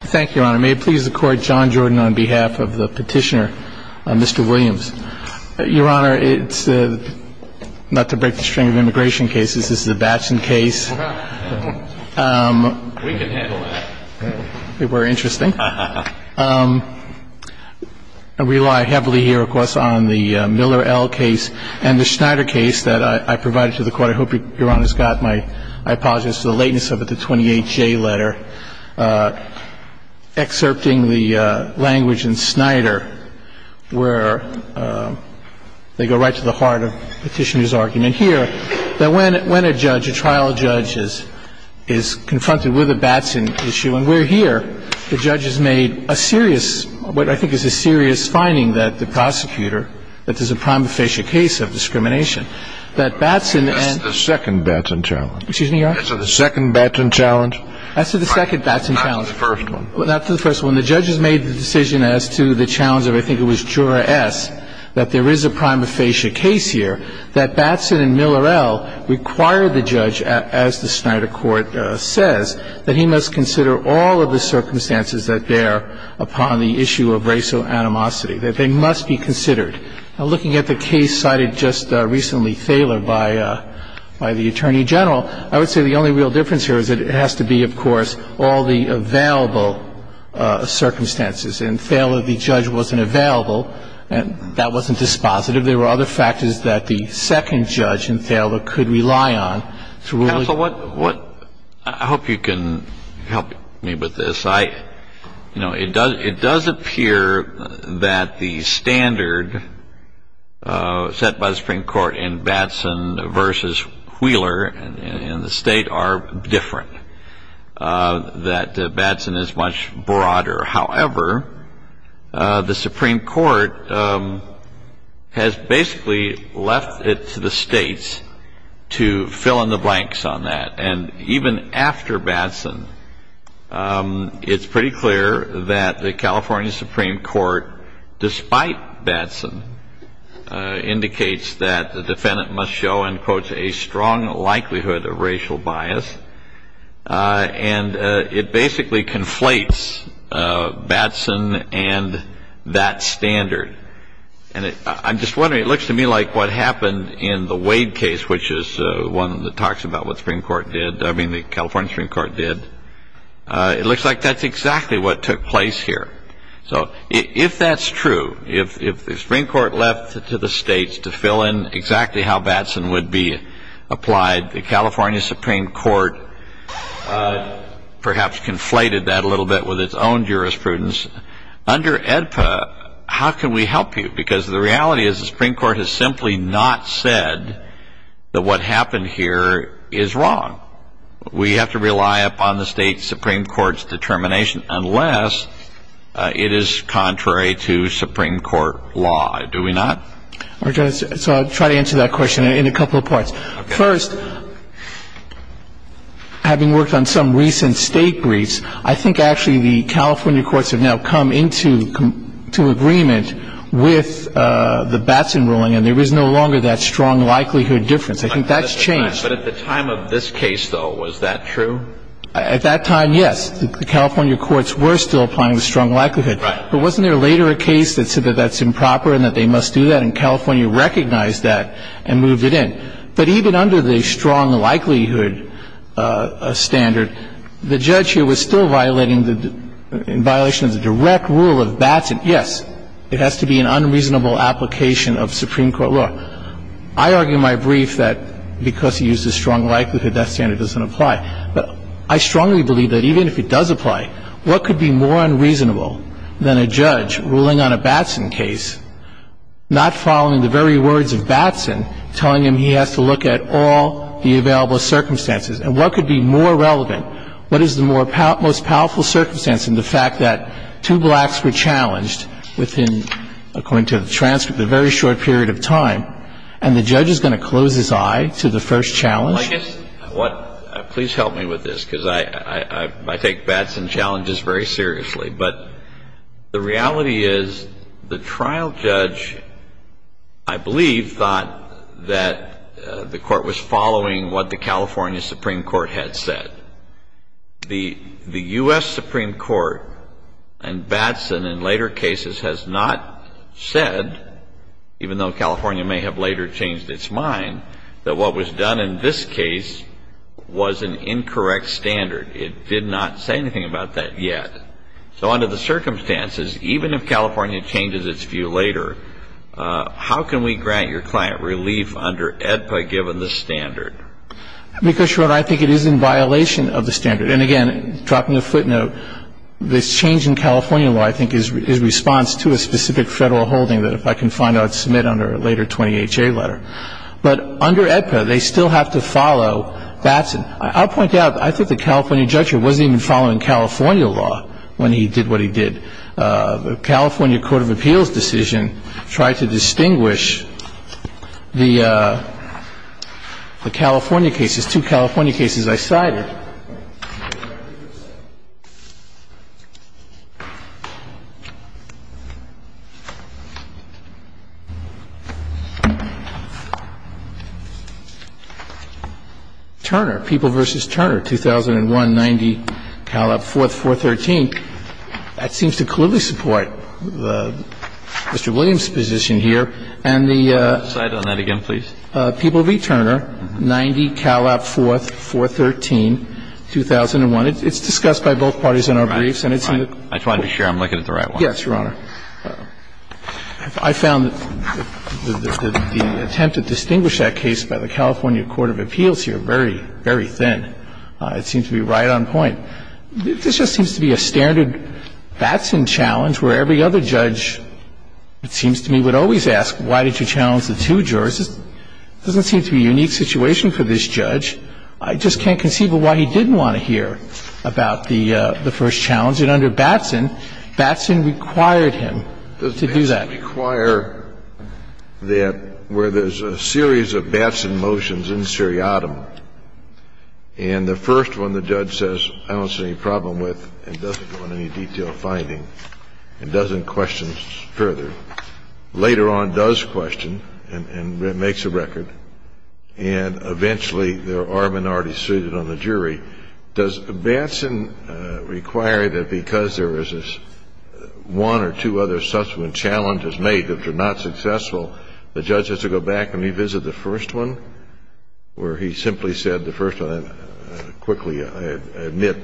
Thank you, Your Honor. May it please the Court, John Jordan on behalf of the petitioner, Mr. Williams. Your Honor, it's not to break the string of immigration cases. This is a Batson case. We can handle that. It were interesting. I rely heavily here, of course, on the Miller L. case and the Schneider case that I provided to the Court. I hope Your Honor's got my — I apologize for the lateness of it, the 28J letter, excerpting the language in Schneider where they go right to the heart of the petitioner's argument here, that when a judge, a trial judge, is confronted with a Batson issue, and we're here, the judge has made a serious — what I think is a serious finding that the prosecutor, that there's a prima facie case of discrimination, that Batson and — This is the second Batson challenge. Excuse me, Your Honor? This is the second Batson challenge. That's the second Batson challenge. That's the first one. That's the first one. The judge has made the decision as to the challenge of, I think it was Jura S., that there is a prima facie case here, that Batson and Miller L. require the judge, as the Schneider Court says, that he must consider all of the circumstances that bear upon the issue of racial animosity, that they must be considered. Now, looking at the case cited just recently, Thaler, by the Attorney General, I would say the only real difference here is that it has to be, of course, all the available circumstances. In Thaler, the judge wasn't available, and that wasn't dispositive. There were other factors that the second judge in Thaler could rely on. Counsel, what — I hope you can help me with this. I — you know, it does appear that the standard set by the Supreme Court in Batson versus Wheeler in the State are different, that Batson is much broader. However, the Supreme Court has basically left it to the States to fill in the blanks on that. And even after Batson, it's pretty clear that the California Supreme Court, despite Batson, indicates that the defendant must show, unquote, a strong likelihood of racial bias. And it basically conflates Batson and that standard. And I'm just wondering, it looks to me like what happened in the Wade case, which is one that talks about what the Supreme Court did — I mean, the California Supreme Court did. It looks like that's exactly what took place here. So if that's true, if the Supreme Court left it to the States to fill in exactly how Batson would be applied, the California Supreme Court perhaps conflated that a little bit with its own jurisprudence. Under AEDPA, how can we help you? Because the reality is the Supreme Court has simply not said that what happened here is wrong. We have to rely upon the State Supreme Court's determination unless it is contrary to Supreme Court law. Do we not? So I'll try to answer that question in a couple of parts. First, having worked on some recent State briefs, I think actually the California courts have now come into agreement with the Batson ruling and there is no longer that strong likelihood difference. I think that's changed. But at the time of this case, though, was that true? At that time, yes. The California courts were still applying the strong likelihood. Right. But wasn't there later a case that said that that's improper and that they must do that? And California recognized that and moved it in. But even under the strong likelihood standard, the judge here was still violating the – in violation of the direct rule of Batson. Yes, it has to be an unreasonable application of Supreme Court law. I argue in my brief that because he used the strong likelihood, that standard doesn't apply. But I strongly believe that even if it does apply, what could be more unreasonable than a judge ruling on a Batson case, not following the very words of Batson, telling him he has to look at all the available circumstances? And what could be more relevant? What is the most powerful circumstance in the fact that two blacks were challenged within, according to the transcript, a very short period of time, and the judge is going to close his eye to the first challenge? Well, I guess what – please help me with this because I take Batson challenges very seriously. But the reality is the trial judge, I believe, thought that the Court was following what the California Supreme Court had said. The U.S. Supreme Court and Batson in later cases has not said, even though California may have later changed its mind, that what was done in this case was an incorrect standard. It did not say anything about that yet. So under the circumstances, even if California changes its view later, how can we grant your client relief under AEDPA given the standard? Because, Your Honor, I think it is in violation of the standard. And again, dropping a footnote, this change in California law, I think, is response to a specific Federal holding that if I can find out, submit under a later 20HA letter. But under AEDPA, they still have to follow Batson. I'll point out, I think the California judge wasn't even following California law when he did what he did. The California Court of Appeals decision tried to distinguish the California cases, two California cases I cited. I'm sorry. Turner, People v. Turner, 2001, 90, Calab, 4th, 413. That seems to clearly support Mr. Williams's position here. And the ---- I'll cite on that again, please. People v. Turner, 90, Calab, 4th, 413, 2001. It's discussed by both parties in our briefs. And it's in the ---- I just wanted to make sure I'm looking at the right one. Yes, Your Honor. I found the attempt to distinguish that case by the California Court of Appeals here very, very thin. It seems to be right on point. And I would just like to point out that in the first challenge, the judge didn't want to hear the first challenge. He would always ask, why did you challenge the two jurors? It doesn't seem to be a unique situation for this judge. I just can't conceive of why he didn't want to hear about the first challenge. And under Batson, Batson required him to do that. But does Batson require that where there's a series of Batson motions in seriatim and the first one the judge says I don't see any problem with and doesn't go into any detailed finding and doesn't question further, later on does question and makes a record and eventually there are minorities suited on the jury, does Batson require that because there is one or two other subsequent challenges made that are not successful, the judge has to go back and revisit the first one where he simply said the first one and quickly admit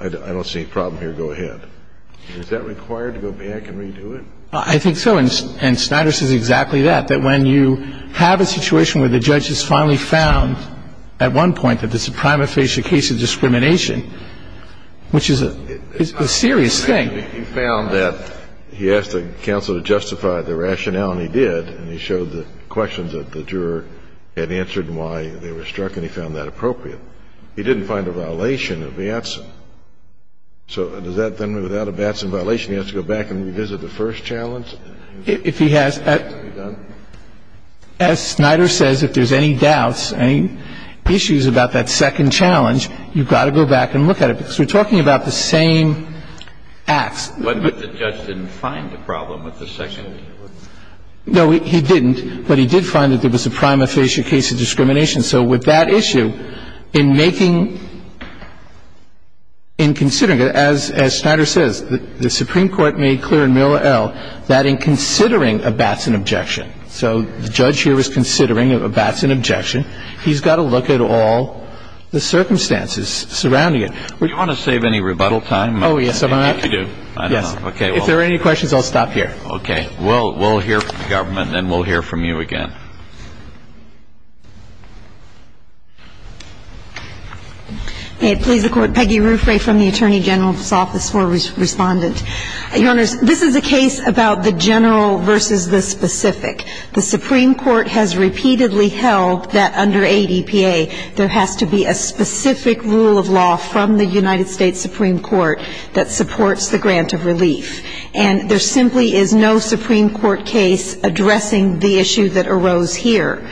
I don't see any problem here, go ahead. Is that required to go back and redo it? I think so. And Snyder says exactly that, that when you have a situation where the judge has finally found at one point that this is a prima facie case of discrimination, which is a serious thing. He found that he asked the counsel to justify the rationale and he did and he showed the questions that the juror had answered and why they were struck and he found that appropriate. He didn't find a violation of Batson. So does that then mean without a Batson violation he has to go back and revisit the first challenge? If he has, as Snyder says, if there's any doubts, any issues about that second challenge, you've got to go back and look at it. Because we're talking about the same acts. But the judge didn't find a problem with the second challenge. No, he didn't, but he did find that there was a prima facie case of discrimination. So with that issue, in making, in considering it, as Snyder says, the Supreme Court made clear in Miller L. that in considering a Batson objection, so the judge here was considering a Batson objection, he's got to look at all the circumstances surrounding it. Do you want to save any rebuttal time? Oh, yes. I do. I don't know. Okay. If there are any questions, I'll stop here. Okay. We'll hear from the government and we'll hear from you again. May it please the Court. Peggy Ruffray from the Attorney General's Office for Respondent. Your Honors, this is a case about the general versus the specific. The Supreme Court has repeatedly held that under ADPA, there has to be a specific rule of law from the United States Supreme Court that supports the grant of relief. And there simply is no Supreme Court case addressing the issue that arose here.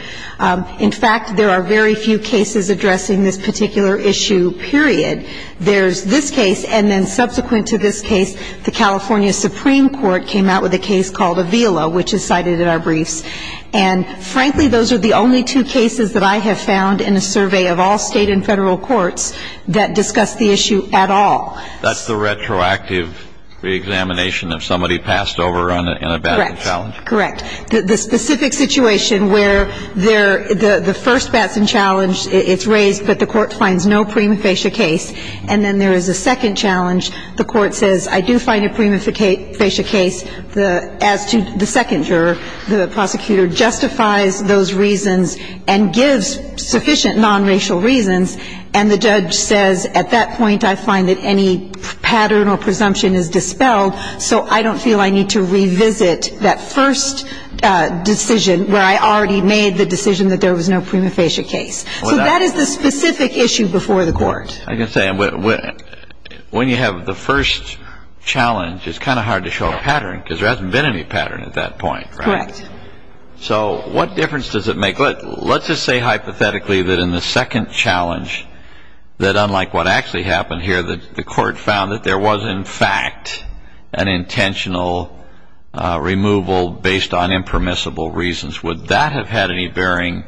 In fact, there are very few cases addressing this particular issue, period. There's this case, and then subsequent to this case, the California Supreme Court came out with a case called Avila, which is cited in our briefs. And frankly, those are the only two cases that I have found in a survey of all State and Federal courts that discuss the issue at all. That's the retroactive reexamination of somebody passed over in a Batson challenge? Correct. Correct. The specific situation where the first Batson challenge, it's raised, but the court finds no prima facie case. And then there is a second challenge. The court says, I do find a prima facie case. As to the second juror, the prosecutor justifies those reasons and gives sufficient nonracial reasons. And the judge says, at that point, I find that any pattern or presumption is dispelled, so I don't feel I need to revisit that first decision where I already made the decision that there was no prima facie case. So that is the specific issue before the court. I can say, when you have the first challenge, it's kind of hard to show a pattern, because there hasn't been any pattern at that point, right? Correct. So what difference does it make? Let's just say hypothetically that in the second challenge, that unlike what actually happened here, that the court found that there was, in fact, an intentional removal based on impermissible reasons. Would that have had any bearing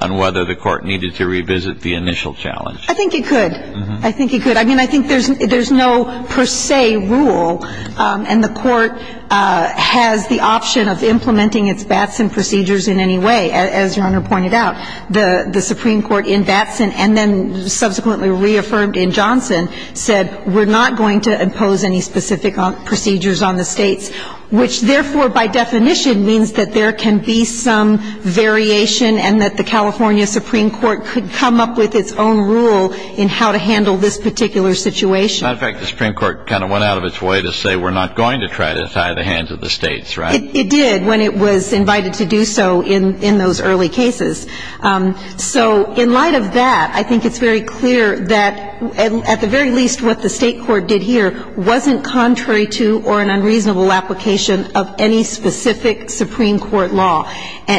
on whether the court needed to revisit the initial challenge? I think it could. I think it could. I mean, I think there's no per se rule, and the court has the option of implementing its Batson procedures in any way, as Your Honor pointed out. The Supreme Court in Batson and then subsequently reaffirmed in Johnson said, we're not going to impose any specific procedures on the States, which therefore, by definition, means that there can be some variation and that the California Supreme Court could come up with its own rule in how to handle this particular situation. As a matter of fact, the Supreme Court kind of went out of its way to say, we're not going to try to tie the hands of the States, right? It did when it was invited to do so in those early cases. So in light of that, I think it's very clear that, at the very least, what the State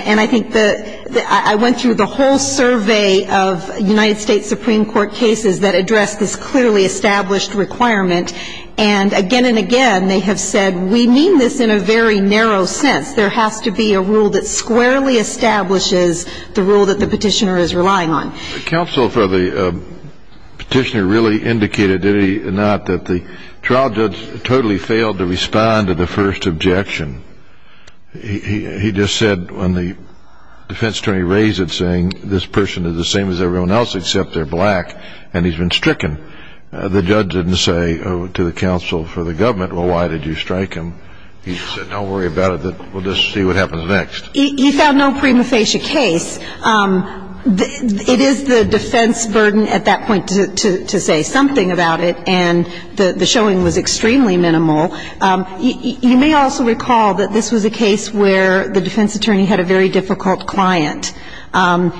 And I think the ‑‑ I went through the whole survey of United States Supreme Court cases that addressed this clearly established requirement, and again and again, they have said, we mean this in a very narrow sense. There has to be a rule that squarely establishes the rule that the petitioner is relying on. Counsel for the petitioner really indicated, did he not, that the trial judge totally failed to respond to the first objection? He just said, when the defense attorney raised it, saying, this person is the same as everyone else except they're black, and he's been stricken, the judge didn't say to the counsel for the government, well, why did you strike him? He said, don't worry about it, we'll just see what happens next. He found no prima facie case. It is the defense burden at that point to say something about it, and the showing was extremely minimal. You may also recall that this was a case where the defense attorney had a very difficult client.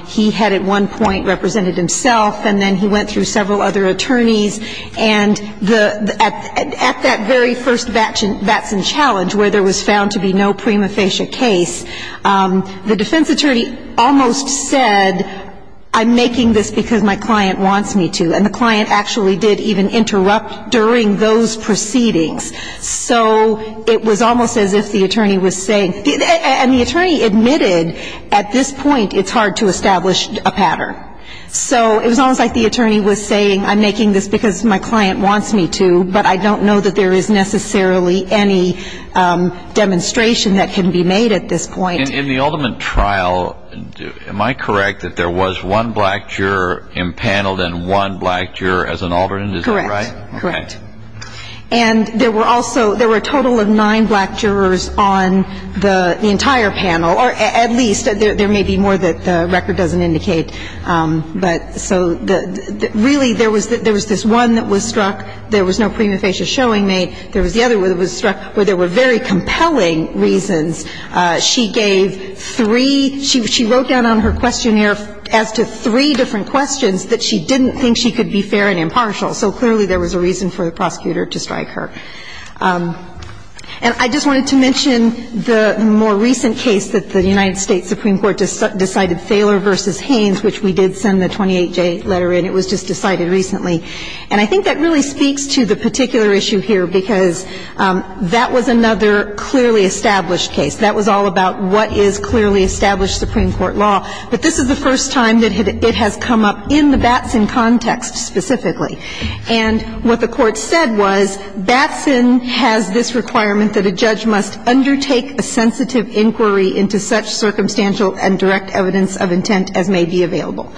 He had at one point represented himself, and then he went through several other attorneys, and at that very first Batson challenge, where there was found to be no prima facie case, the defense attorney almost said, I'm making this because my client wants me to. And the client actually did even interrupt during those proceedings. So it was almost as if the attorney was saying, and the attorney admitted at this point it's hard to establish a pattern. So it was almost like the attorney was saying, I'm making this because my client wants me to, but I don't know that there is necessarily any demonstration that can be made at this point. In the ultimate trial, am I correct that there was one black juror impaneled and one black juror as an alternate? Is that right? Correct. And there were also, there were a total of nine black jurors on the entire panel, or at least, there may be more that the record doesn't indicate, but really there was this one that was struck, there was no prima facie showing made. There was the other one that was struck where there were very compelling reasons. She gave three, she wrote down on her questionnaire as to three different questions that she didn't think she could be fair and impartial. So clearly there was a reason for the prosecutor to strike her. And I just wanted to mention the more recent case that the United States Supreme Court decided, Thaler v. Haynes, which we did send the 28-J letter in. It was just decided recently. And I think that really speaks to the particular issue here because that was another clearly established case. That was all about what is clearly established Supreme Court law. But this is the first time that it has come up in the Batson context specifically. And what the Court said was Batson has this requirement that a judge must undertake a sensitive inquiry into such circumstantial and direct evidence of intent as may be available.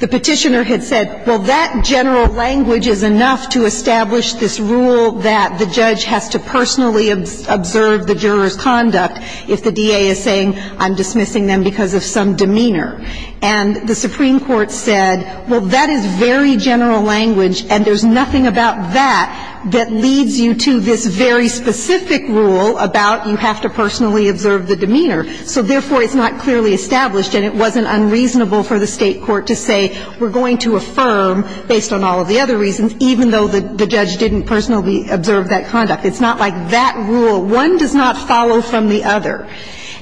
The Petitioner had said, well, that general language is enough to establish this rule that the judge has to personally observe the juror's conduct if the DA is saying I'm dismissing them because of some demeanor. And the Supreme Court said, well, that is very general language and there's nothing about that that leads you to this very specific rule about you have to personally observe the demeanor. So therefore, it's not clearly established and it wasn't unreasonable for the State court to say we're going to affirm, based on all of the other reasons, even though the judge didn't personally observe that conduct. It's not like that rule. One does not follow from the other.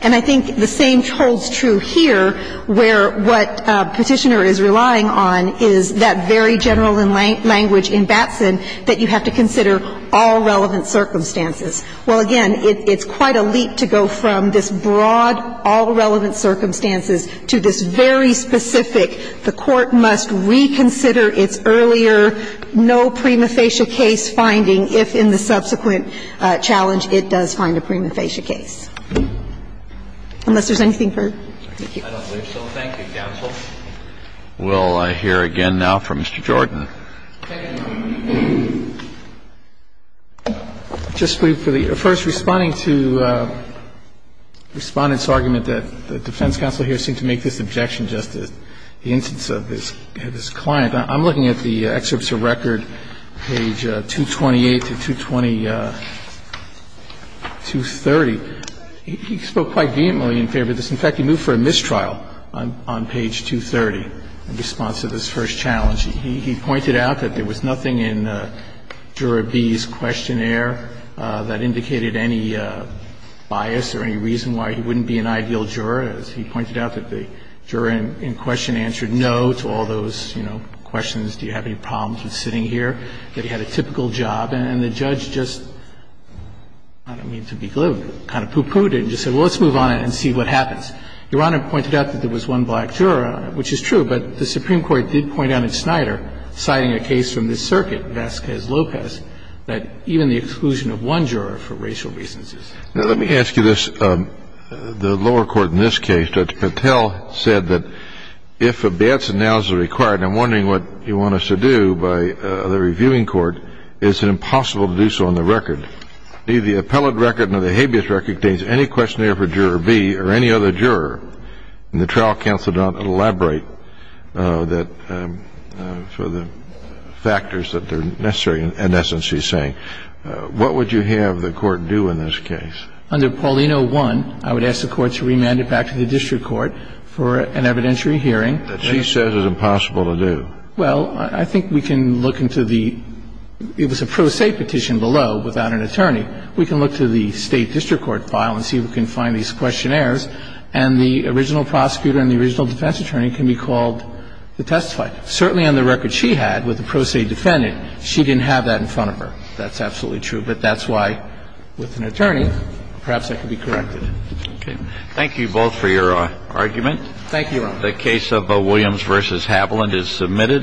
And I think the same holds true here where what Petitioner is relying on is that very general language in Batson that you have to consider all relevant circumstances. Well, again, it's quite a leap to go from this broad all relevant circumstances to this very specific the Court must reconsider its earlier no prima facie case finding if in the subsequent challenge it does find a prima facie case. Unless there's anything further. Thank you. I don't believe so. Thank you, counsel. We'll hear again now from Mr. Jordan. Just for the first, responding to Respondent's argument that the defense counsel here seemed to make this objection just as the instance of his client. I'm looking at the excerpts of record, page 228 to 220, 230. He spoke quite vehemently in favor of this. In fact, he moved for a mistrial on page 230 in response to this first challenge. He pointed out that there was nothing in Juror B's questionnaire that indicated any bias or any reason why he wouldn't be an ideal juror, as he pointed out that the juror in question answered no to all those, you know, questions, do you have any problems with sitting here, that he had a typical job. And the judge just, I don't mean to be glib, but kind of poo-pooed it and just said, well, let's move on and see what happens. Your Honor pointed out that there was one black juror, which is true, but the Supreme Court did point out in Snyder, citing a case from this circuit, Vasquez-Lopez, that even the exclusion of one juror for racial reasons is true. Now, let me ask you this. The lower court in this case, Judge Patel, said that if a bias analysis is required and I'm wondering what you want us to do by the reviewing court, is it impossible to do so on the record? The appellate record and the habeas record contains any questionnaire for juror B or any other juror. And the trial counsel did not elaborate that for the factors that are necessary in essence, she's saying. What would you have the Court do in this case? Under Paulino 1, I would ask the Court to remand it back to the district court for an evidentiary hearing. That she says is impossible to do. Well, I think we can look into the – it was a pro se petition below without an attorney. We can look to the state district court file and see if we can find these questionnaires. And the original prosecutor and the original defense attorney can be called to testify. Certainly on the record she had with the pro se defendant, she didn't have that in front of her. That's absolutely true. But that's why with an attorney, perhaps that could be corrected. Okay. Thank you both for your argument. Thank you, Your Honor. The case of Williams v. Haviland is submitted.